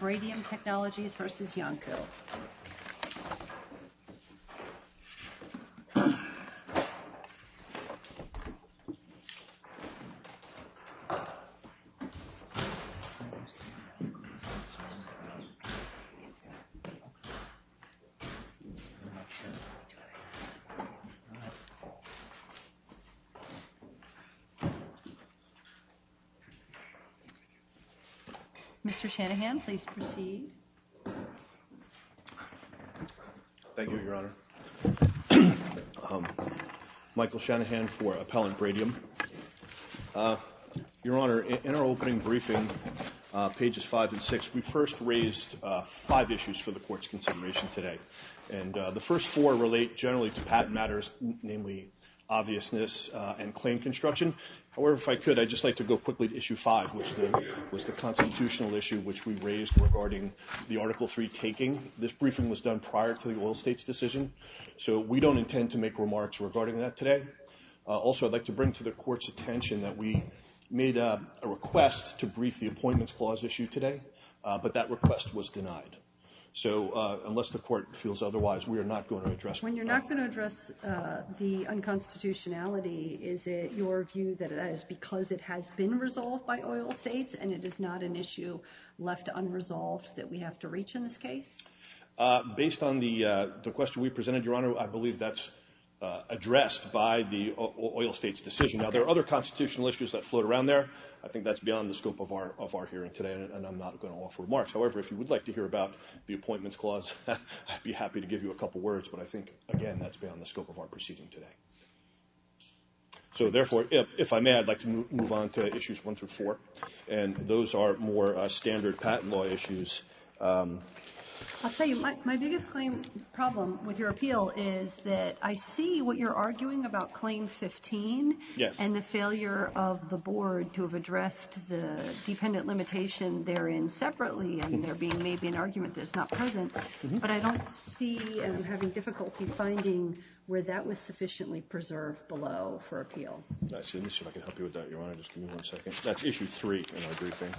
Bradium Technologies v. Iancu Mr. Shanahan, please proceed. Thank you, Your Honor. Michael Shanahan for Appellant Bradium. Your Honor, in our opening briefing, pages five and six, we first raised five issues for the Court's consideration today. And the first four relate generally to patent matters, namely obviousness and claim construction. However, if I could, I'd just like to go quickly to issue five, which was the constitutional issue which we raised regarding patent matters. The article three taking, this briefing was done prior to the oil states decision. So we don't intend to make remarks regarding that today. Also, I'd like to bring to the Court's attention that we made a request to brief the appointments clause issue today, but that request was denied. So unless the Court feels otherwise, we are not going to address. When you're not going to address the unconstitutionality, is it your view that it is because it has been resolved by oil states and it is not an issue left unresolved that we have to reach in this case? Based on the question we presented, Your Honor, I believe that's addressed by the oil states decision. Now, there are other constitutional issues that float around there. I think that's beyond the scope of our hearing today, and I'm not going to offer remarks. However, if you would like to hear about the appointments clause, I'd be happy to give you a couple words. But I think, again, that's beyond the scope of our proceeding today. So, therefore, if I may, I'd like to move on to issues one through four, and those are more standard patent law issues. I'll tell you, my biggest claim problem with your appeal is that I see what you're arguing about Claim 15 and the failure of the Board to have addressed the dependent limitation therein separately, and there being maybe an argument that's not present, but I don't see having difficulty finding where that was sufficiently preserved below for appeal. Let me see if I can help you with that, Your Honor. Just give me one second. That's issue three in our briefing.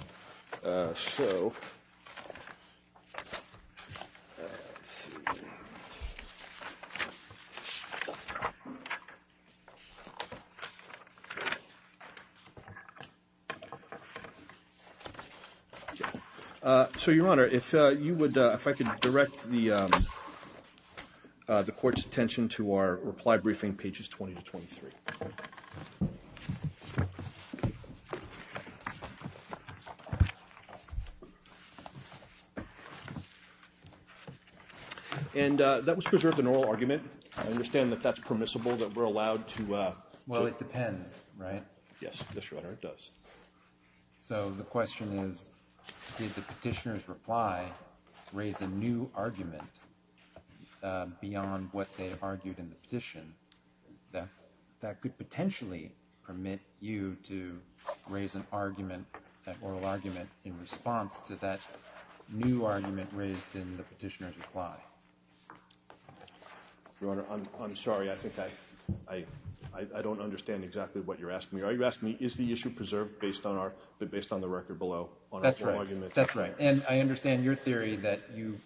So, Your Honor, if I could direct the Court's attention to our reply briefing, pages 20 to 23. And that was preserved in oral argument. I understand that that's permissible, that we're allowed to... Well, it depends, right? Yes, Your Honor, it does. So the question is, did the petitioner's reply raise a new argument beyond what they argued in the petition that could potentially permit you to raise an argument, an oral argument, in response to that new argument raised in the petitioner's reply? Your Honor, I'm sorry. I think I don't understand exactly what you're asking me. Are you asking me, is the issue preserved based on the record below on oral argument? That's right. That's right. And I understand your theory that you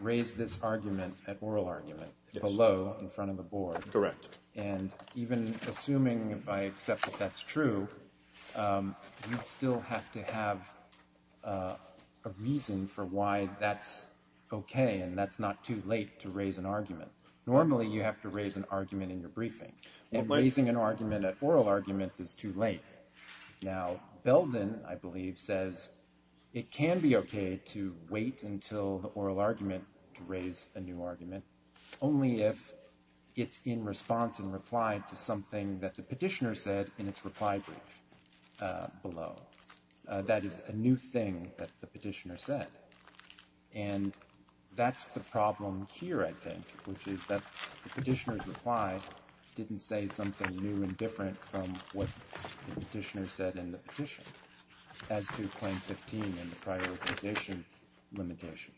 raised this argument, that oral argument, below in front of the Board. Correct. And even assuming, if I accept that that's true, you'd still have to have a reason for why that's okay and that's not too late to raise an argument. Normally, you have to raise an argument in your briefing. And raising an argument, an oral argument, is too late. Now, Belden, I believe, says it can be okay to wait until the oral argument to raise a new argument, only if it's in response and reply to something that the petitioner said in its reply brief below. Well, that is a new thing that the petitioner said. And that's the problem here, I think, which is that the petitioner's reply didn't say something new and different from what the petitioner said in the petition, as to Claim 15 and the prioritization limitation.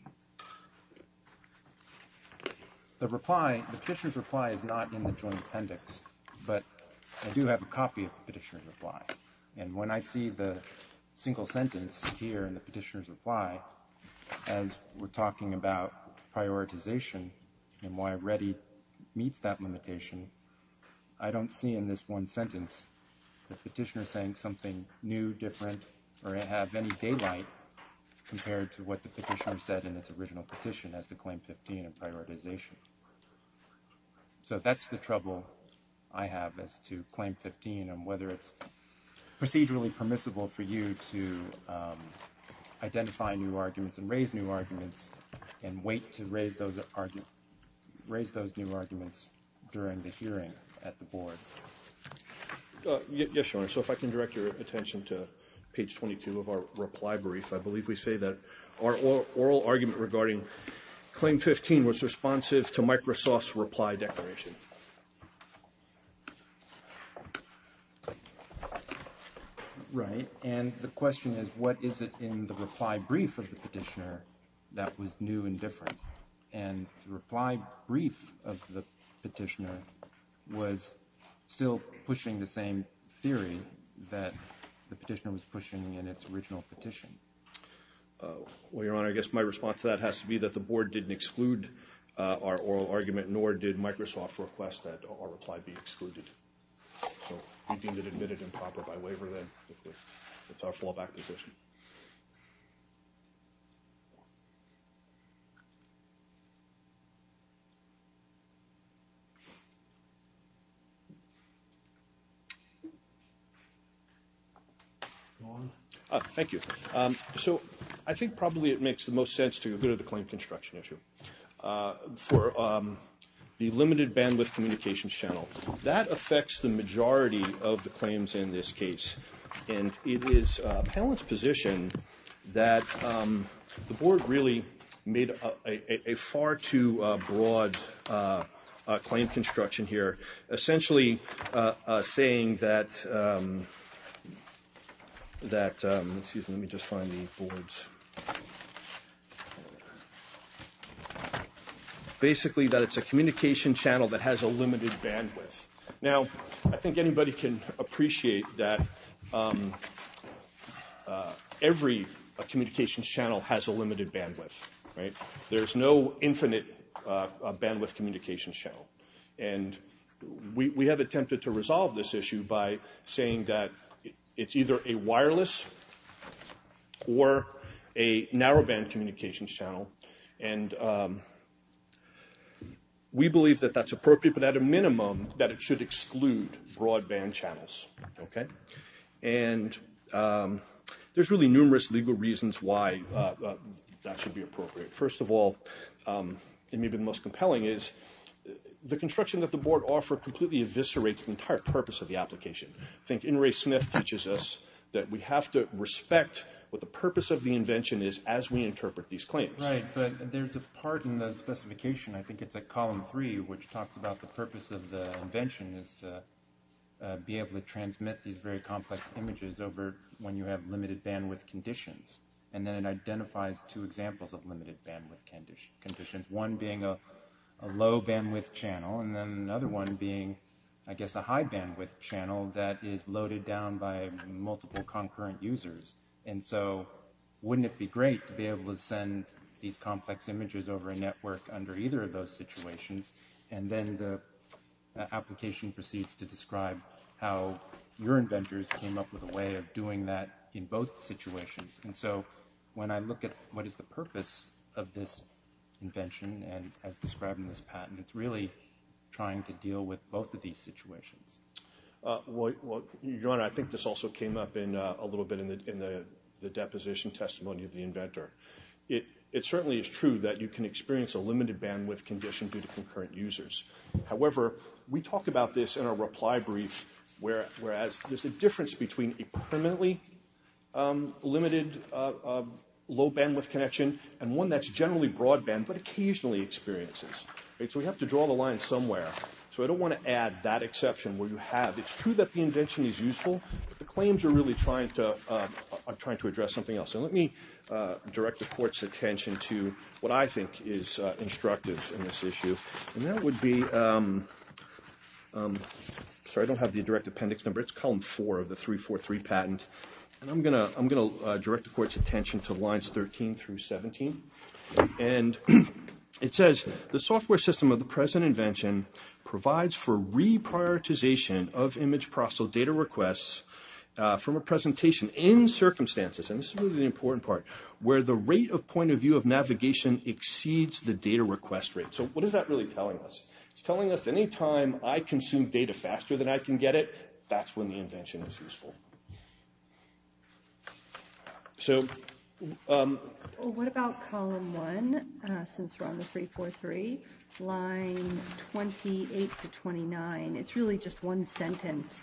The reply, the petitioner's reply, is not in the Joint Appendix, but I do have a copy of the petitioner's reply. And when I see the single sentence here in the petitioner's reply, as we're talking about prioritization and why REDDI meets that limitation, I don't see in this one sentence the petitioner saying something new, different, or have any daylight compared to what the petitioner said in its original petition, as to Claim 15 and prioritization. So that's the trouble I have as to Claim 15 and whether it's procedurally permissible for you to identify new arguments and raise new arguments and wait to raise those new arguments during the hearing at the Board. Yes, Your Honor. So if I can direct your attention to page 22 of our reply brief, I believe we say that our oral argument regarding Claim 15 was responsive to Microsoft's reply declaration. Right. And the question is, what is it in the reply brief of the petitioner that was new and different? And the reply brief of the petitioner was still pushing the same theory that the petitioner was pushing in its original petition. Well, Your Honor, I guess my response to that has to be that the Board didn't exclude our oral argument, nor did Microsoft request that our reply be excluded. So we deem it admitted and proper by waiver, then, if that's our fallback position. Thank you. So I think probably it makes the most sense to go to the claim construction issue for the limited bandwidth communications channel that affects the majority of the claims in this case. And it is a panelist's position that the Board really made a far too broad claim construction here, essentially saying that, excuse me, let me just find the boards. Basically, that it's a communication channel that has a limited bandwidth. Now, I think anybody can appreciate that every communication channel has a limited bandwidth, right? There's no infinite bandwidth communication channel. And we have attempted to resolve this issue by saying that it's either a wireless or a narrowband communications channel. And we believe that that's appropriate, but at a minimum, that it should exclude broadband channels. And there's really numerous legal reasons why that should be appropriate. First of all, and maybe the most compelling is the construction that the Board offered completely eviscerates the entire purpose of the application. I think In re Smith teaches us that we have to respect what the purpose of the invention is as we interpret these claims. Right, but there's a part in the specification, I think it's a column three, which talks about the purpose of the invention is to be able to transmit these very complex images over when you have limited bandwidth conditions. And then it identifies two examples of limited bandwidth conditions, one being a low bandwidth channel and then another one being, I guess, a high bandwidth channel that is loaded down by multiple concurrent users. And so wouldn't it be great to be able to send these complex images over a network under either of those situations? And then the application proceeds to describe how your inventors came up with a way of doing that in both situations. And so when I look at what is the purpose of this invention and as described in this patent, it's really trying to deal with both of these situations. Well, your Honor, I think this also came up in a little bit in the deposition testimony of the inventor. It certainly is true that you can experience a limited bandwidth condition due to concurrent users. However, we talk about this in our reply brief, whereas there's a difference between a permanently limited low bandwidth connection and one that's generally broadband, but occasionally experiences. So we have to draw the line somewhere. So I don't want to add that exception where you have, it's true that the invention is useful, but the claims are really trying to address something else. And let me direct the Court's attention to what I think is instructive in this issue. And that would be, sorry, I don't have the direct appendix number. It's column four of the 343 patent. And I'm going to direct the Court's attention to lines 13 through 17. And it says, the software system of the present invention provides for reprioritization of image-processed data requests from a presentation in circumstances, and this is really the important part, where the rate of point of view of navigation exceeds the data request rate. So what is that really telling us? It's telling us any time I consume data faster than I can get it, that's when the invention is useful. So... Well, what about column one, since we're on the 343, line 28 to 29? It's really just one sentence.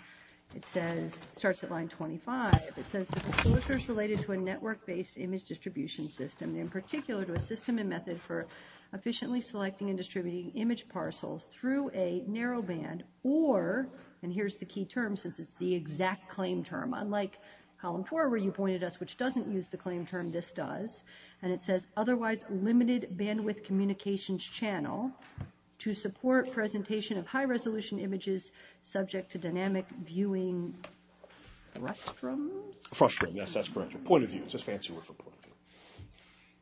It says, starts at line 25, it says, the procedure is related to a network-based image distribution system, in particular to a system and method for efficiently selecting and distributing image parcels through a narrowband or, and here's the key term, since it's the exact claim term, unlike column four, where you pointed us, which doesn't use the claim term, this does. And it says, otherwise limited bandwidth communications channel to support presentation of high-resolution images subject to dynamic viewing frustrums? Frustrum, yes, that's correct. Point of view. It's a fancy word for point of view.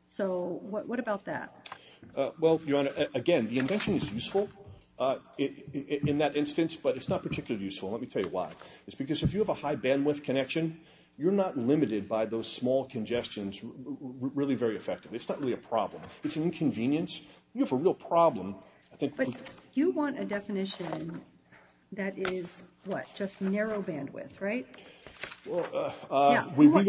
So what about that? Well, Your Honor, again, the invention is useful in that instance, but it's not particularly useful. Let me tell you why. It's because if you have a high bandwidth connection, you're not limited by those small congestions really very effectively. It's not really a problem. It's an inconvenience. You have a real problem. But you want a definition that is, what, just narrow bandwidth, right? We would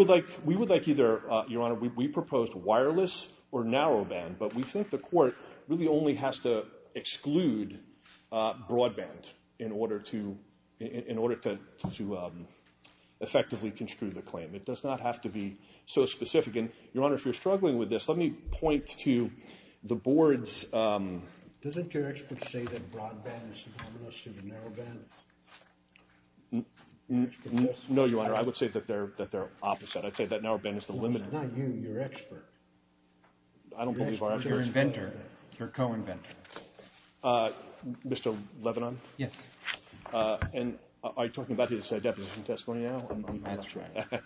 like either, Your Honor, we proposed wireless or narrowband, but we think the court really only has to exclude broadband in order to effectively construe the claim. It does not have to be so specific. And, Your Honor, if you're struggling with this, let me point to the board's. Doesn't your expert say that broadband is synonymous with narrowband? No, Your Honor, I would say that they're opposite. I'd say that narrowband is the limit. No, not you, your expert. I don't believe our expert. Your inventor, your co-inventor. Mr. Levinon? Yes. And are you talking about his deposition testimony now? That's right.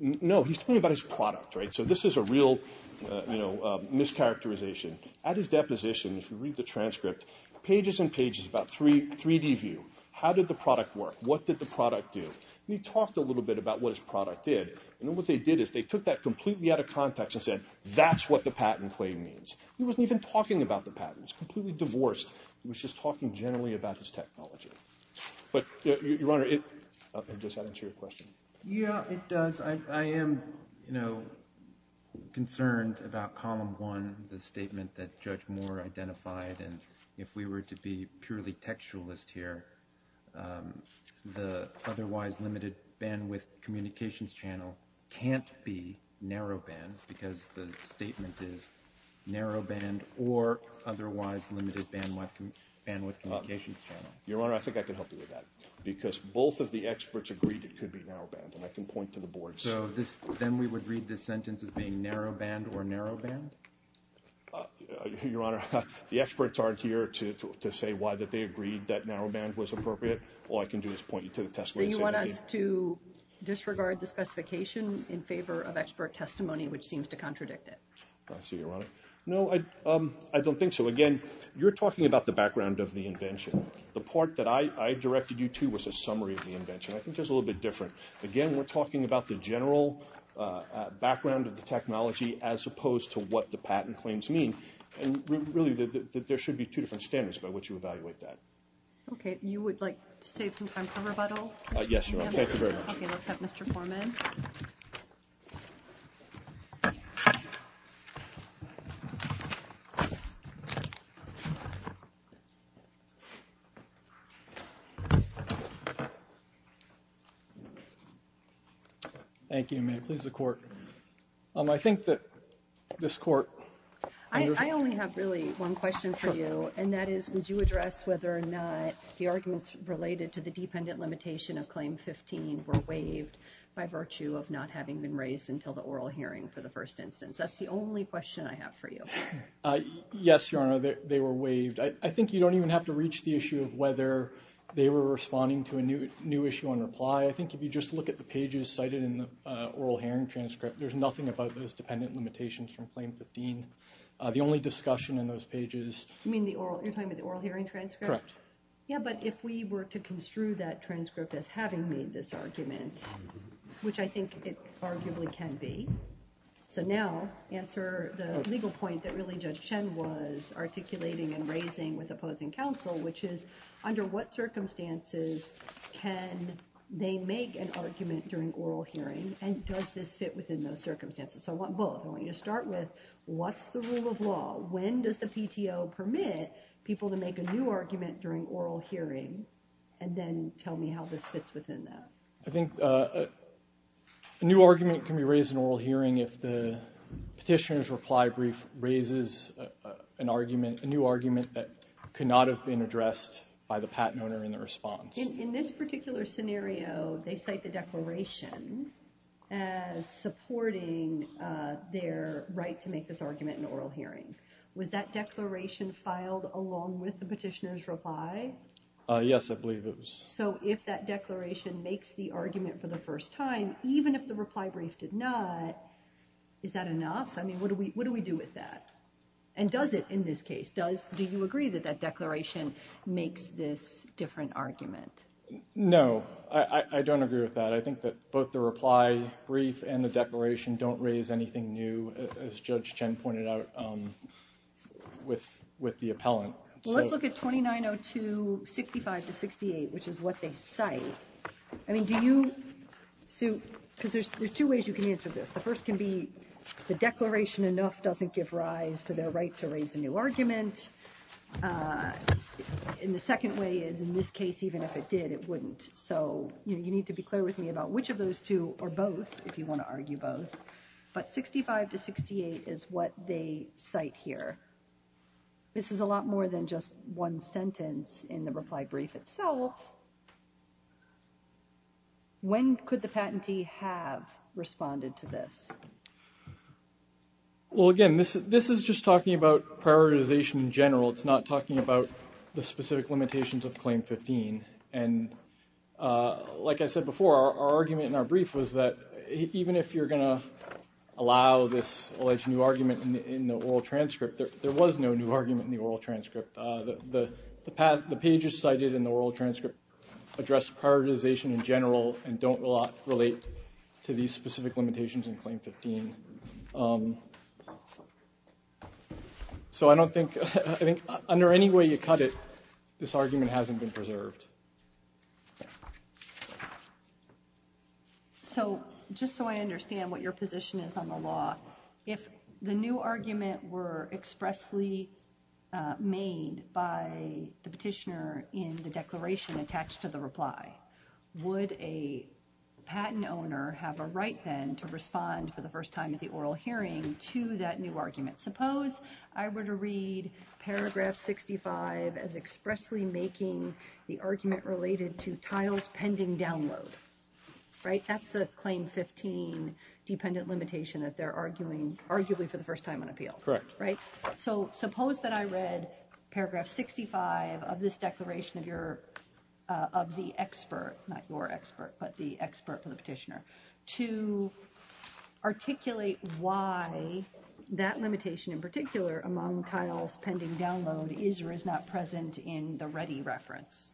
No, he's talking about his product, right? So this is a real, you know, mischaracterization. At his deposition, if you read the transcript, pages and pages, about 3D view. How did the product work? What did the product do? And he talked a little bit about what his product did. And what they did is they took that completely out of context and said, that's what the patent claim means. He wasn't even talking about the patent. He was completely divorced. He was just talking generally about his technology. But, Your Honor, it, just to answer your question. Yeah, it does. I am, you know, concerned about Column 1, the statement that Judge Moore identified. And if we were to be purely textualist here, the otherwise limited bandwidth communications channel can't be narrowband. Because the statement is narrowband or otherwise limited bandwidth communications channel. Your Honor, I think I can help you with that. Because both of the experts agreed it could be narrowband, and I can point to the boards. So then we would read this sentence as being narrowband or narrowband? Your Honor, the experts aren't here to say why they agreed that narrowband was appropriate. All I can do is point you to the test ways. So you want us to disregard the specification in favor of expert testimony, which seems to contradict it? I see, Your Honor. No, I don't think so. Again, you're talking about the background of the invention. The part that I directed you to was a summary of the invention. I think there's a little bit different. Again, we're talking about the general background of the technology as opposed to what the patent claims mean. And really, there should be two different standards by which you evaluate that. Okay, you would like to save some time for rebuttal? Yes, Your Honor. Thank you very much. Okay, let's have Mr. Foreman. Thank you. May it please the Court. I think that this Court understands. I only have really one question for you, and that is would you address whether or not the arguments related to the dependent limitation of Claim 15 were waived by virtue of not having been raised until the oral hearing for the first instance? That's the only question I have for you. Yes, Your Honor, they were waived. I think you don't even have to reach the issue of whether they were responding to a new issue on reply. I think if you just look at the pages cited in the oral hearing transcript, there's nothing about those dependent limitations from Claim 15. The only discussion in those pages— You mean the oral—you're talking about the oral hearing transcript? Correct. Yeah, but if we were to construe that transcript as having made this argument, which I think it arguably can be. So now answer the legal point that really Judge Chen was articulating and raising with opposing counsel, which is under what circumstances can they make an argument during oral hearing, and does this fit within those circumstances? So I want both. I want you to start with what's the rule of law? When does the PTO permit people to make a new argument during oral hearing, and then tell me how this fits within that? I think a new argument can be raised in oral hearing if the petitioner's reply brief raises a new argument that could not have been addressed by the patent owner in the response. In this particular scenario, they cite the declaration as supporting their right to make this argument in oral hearing. Was that declaration filed along with the petitioner's reply? Yes, I believe it was. So if that declaration makes the argument for the first time, even if the reply brief did not, is that enough? I mean, what do we do with that? And does it in this case? Do you agree that that declaration makes this different argument? No, I don't agree with that. I think that both the reply brief and the declaration don't raise anything new, as Judge Chen pointed out, with the appellant. Well, let's look at 2902.65-68, which is what they cite. I mean, do you – because there's two ways you can answer this. The first can be the declaration enough doesn't give rise to their right to raise a new argument. And the second way is in this case, even if it did, it wouldn't. So you need to be clear with me about which of those two are both, if you want to argue both. But 65-68 is what they cite here. This is a lot more than just one sentence in the reply brief itself. When could the patentee have responded to this? Well, again, this is just talking about prioritization in general. It's not talking about the specific limitations of Claim 15. And like I said before, our argument in our brief was that even if you're going to allow this alleged new argument in the oral transcript, there was no new argument in the oral transcript. The pages cited in the oral transcript address prioritization in general and don't relate to these specific limitations in Claim 15. So I don't think – I think under any way you cut it, this argument hasn't been preserved. So just so I understand what your position is on the law, if the new argument were expressly made by the petitioner in the declaration attached to the reply, would a patent owner have a right then to respond for the first time at the oral hearing to that new argument? Suppose I were to read paragraph 65 as expressly making the argument related to tiles pending download, right? They're arguing arguably for the first time on appeal. Correct. Right? So suppose that I read paragraph 65 of this declaration of your – of the expert, not your expert, but the expert from the petitioner, to articulate why that limitation in particular among tiles pending download is or is not present in the ready reference.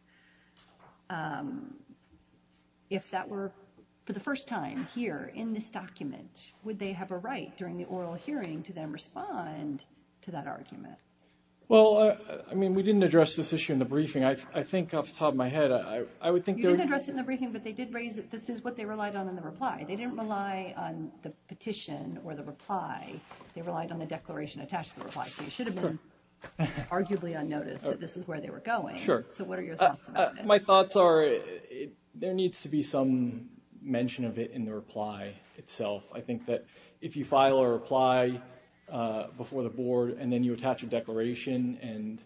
If that were for the first time here in this document, would they have a right during the oral hearing to then respond to that argument? Well, I mean, we didn't address this issue in the briefing. I think off the top of my head, I would think – You did address it in the briefing, but they did raise that this is what they relied on in the reply. They didn't rely on the petition or the reply. They relied on the declaration attached to the reply. So you should have been arguably unnoticed that this is where they were going. Sure. So what are your thoughts about that? My thoughts are there needs to be some mention of it in the reply itself. I think that if you file a reply before the board and then you attach a declaration, and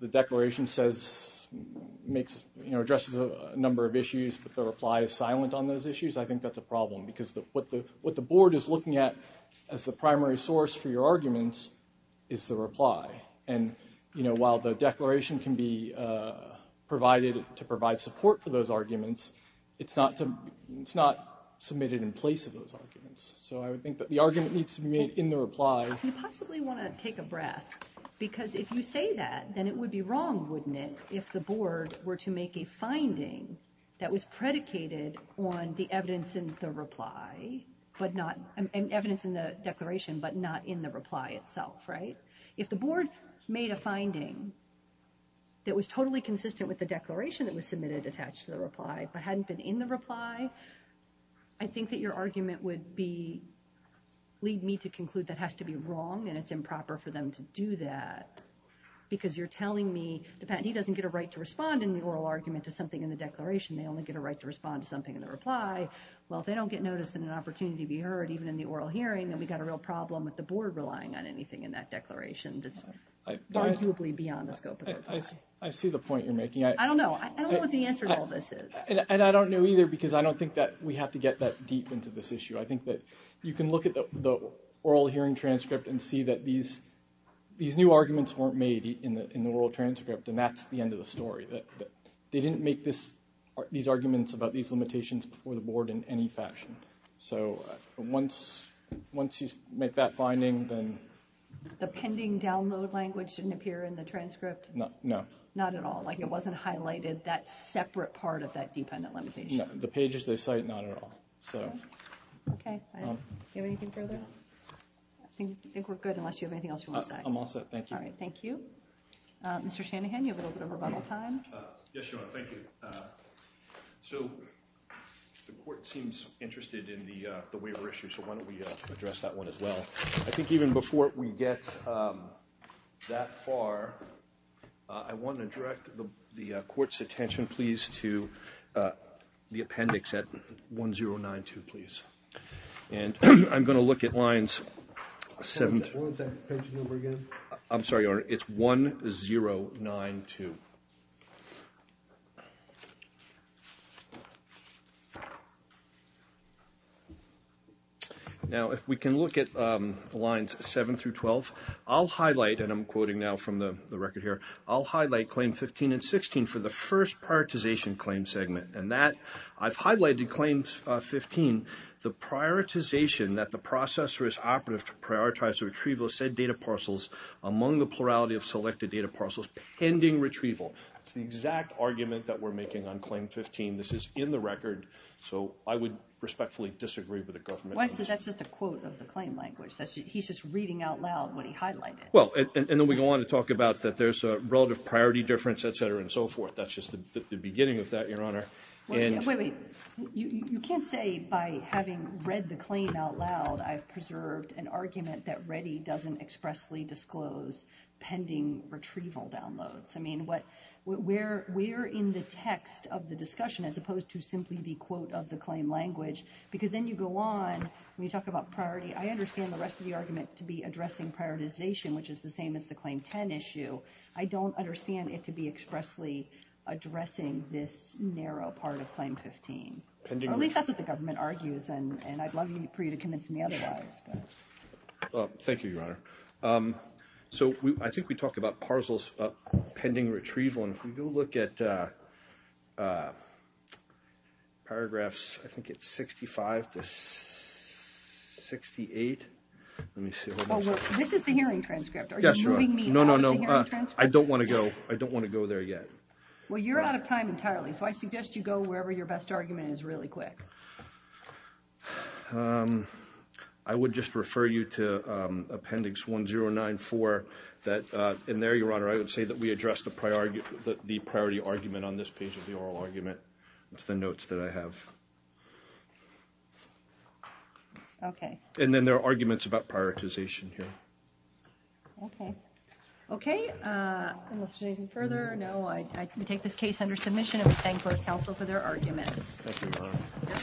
the declaration says – makes – addresses a number of issues, but the reply is silent on those issues, I think that's a problem because what the board is looking at as the primary source for your arguments is the reply. And, you know, while the declaration can be provided to provide support for those arguments, it's not submitted in place of those arguments. So I would think that the argument needs to be made in the reply. I can possibly want to take a breath because if you say that, then it would be wrong, wouldn't it, if the board were to make a finding that was predicated on the evidence in the reply but not – evidence in the declaration but not in the reply itself, right? If the board made a finding that was totally consistent with the declaration that was submitted attached to the reply but hadn't been in the reply, I think that your argument would be – lead me to conclude that has to be wrong and it's improper for them to do that because you're telling me the patentee doesn't get a right to respond in the oral argument to something in the declaration. They only get a right to respond to something in the reply. Well, if they don't get notice and an opportunity to be heard, even in the oral hearing, then we've got a real problem with the board relying on anything in that declaration that's arguably beyond the scope of the reply. I see the point you're making. I don't know. I don't know what the answer to all this is. And I don't know either because I don't think that we have to get that deep into this issue. I think that you can look at the oral hearing transcript and see that these new arguments weren't made in the oral transcript and that's the end of the story. They didn't make these arguments about these limitations before the board in any fashion. So once you make that finding, then... The pending download language didn't appear in the transcript? No. Not at all? Like it wasn't highlighted, that separate part of that dependent limitation? The pages they cite, not at all. Okay. Do you have anything further? I think we're good unless you have anything else you want to say. I'm all set. Thank you. All right. Thank you. Mr. Shanahan, you have a little bit of rebuttal time. Yes, Your Honor. Thank you. So the court seems interested in the waiver issue, so why don't we address that one as well. I think even before we get that far, I want to direct the court's attention, please, to the appendix at 1092, please. And I'm going to look at lines... What was that page number again? I'm sorry, Your Honor. It's 1092. Okay. Now, if we can look at lines 7 through 12, I'll highlight, and I'm quoting now from the record here, I'll highlight claim 15 and 16 for the first prioritization claim segment. And that, I've highlighted claims 15, the prioritization that the processor is operative to prioritize the retrieval of said data parcels among the plurality of selected data parcels pending retrieval. That's the exact argument that we're making on claim 15. This is in the record, so I would respectfully disagree with the government. That's just a quote of the claim language. He's just reading out loud what he highlighted. Well, and then we go on to talk about that there's a relative priority difference, et cetera, and so forth. That's just the beginning of that, Your Honor. Wait, wait. You can't say by having read the claim out loud, I've preserved an argument that REDI doesn't expressly disclose pending retrieval downloads. I mean, we're in the text of the discussion as opposed to simply the quote of the claim language because then you go on, when you talk about priority, I understand the rest of the argument to be addressing prioritization, which is the same as the claim 10 issue. I don't understand it to be expressly addressing this narrow part of claim 15. Or at least that's what the government argues, and I'd love for you to convince me otherwise. Thank you, Your Honor. So I think we talked about parcels of pending retrieval. If we go look at paragraphs, I think it's 65 to 68. Let me see. Well, this is the hearing transcript. Are you moving me out of the hearing transcript? No, no, no. I don't want to go. I don't want to go there yet. Well, you're out of time entirely, so I suggest you go wherever your best argument is really quick. I would just refer you to Appendix 1094. And there, Your Honor, I would say that we addressed the priority argument on this page of the oral argument. It's the notes that I have. Okay. And then there are arguments about prioritization here. Okay. Okay. Unless you need me further, no. I take this case under submission, and we thank both counsel for their arguments. Thank you, Your Honor. Thank you.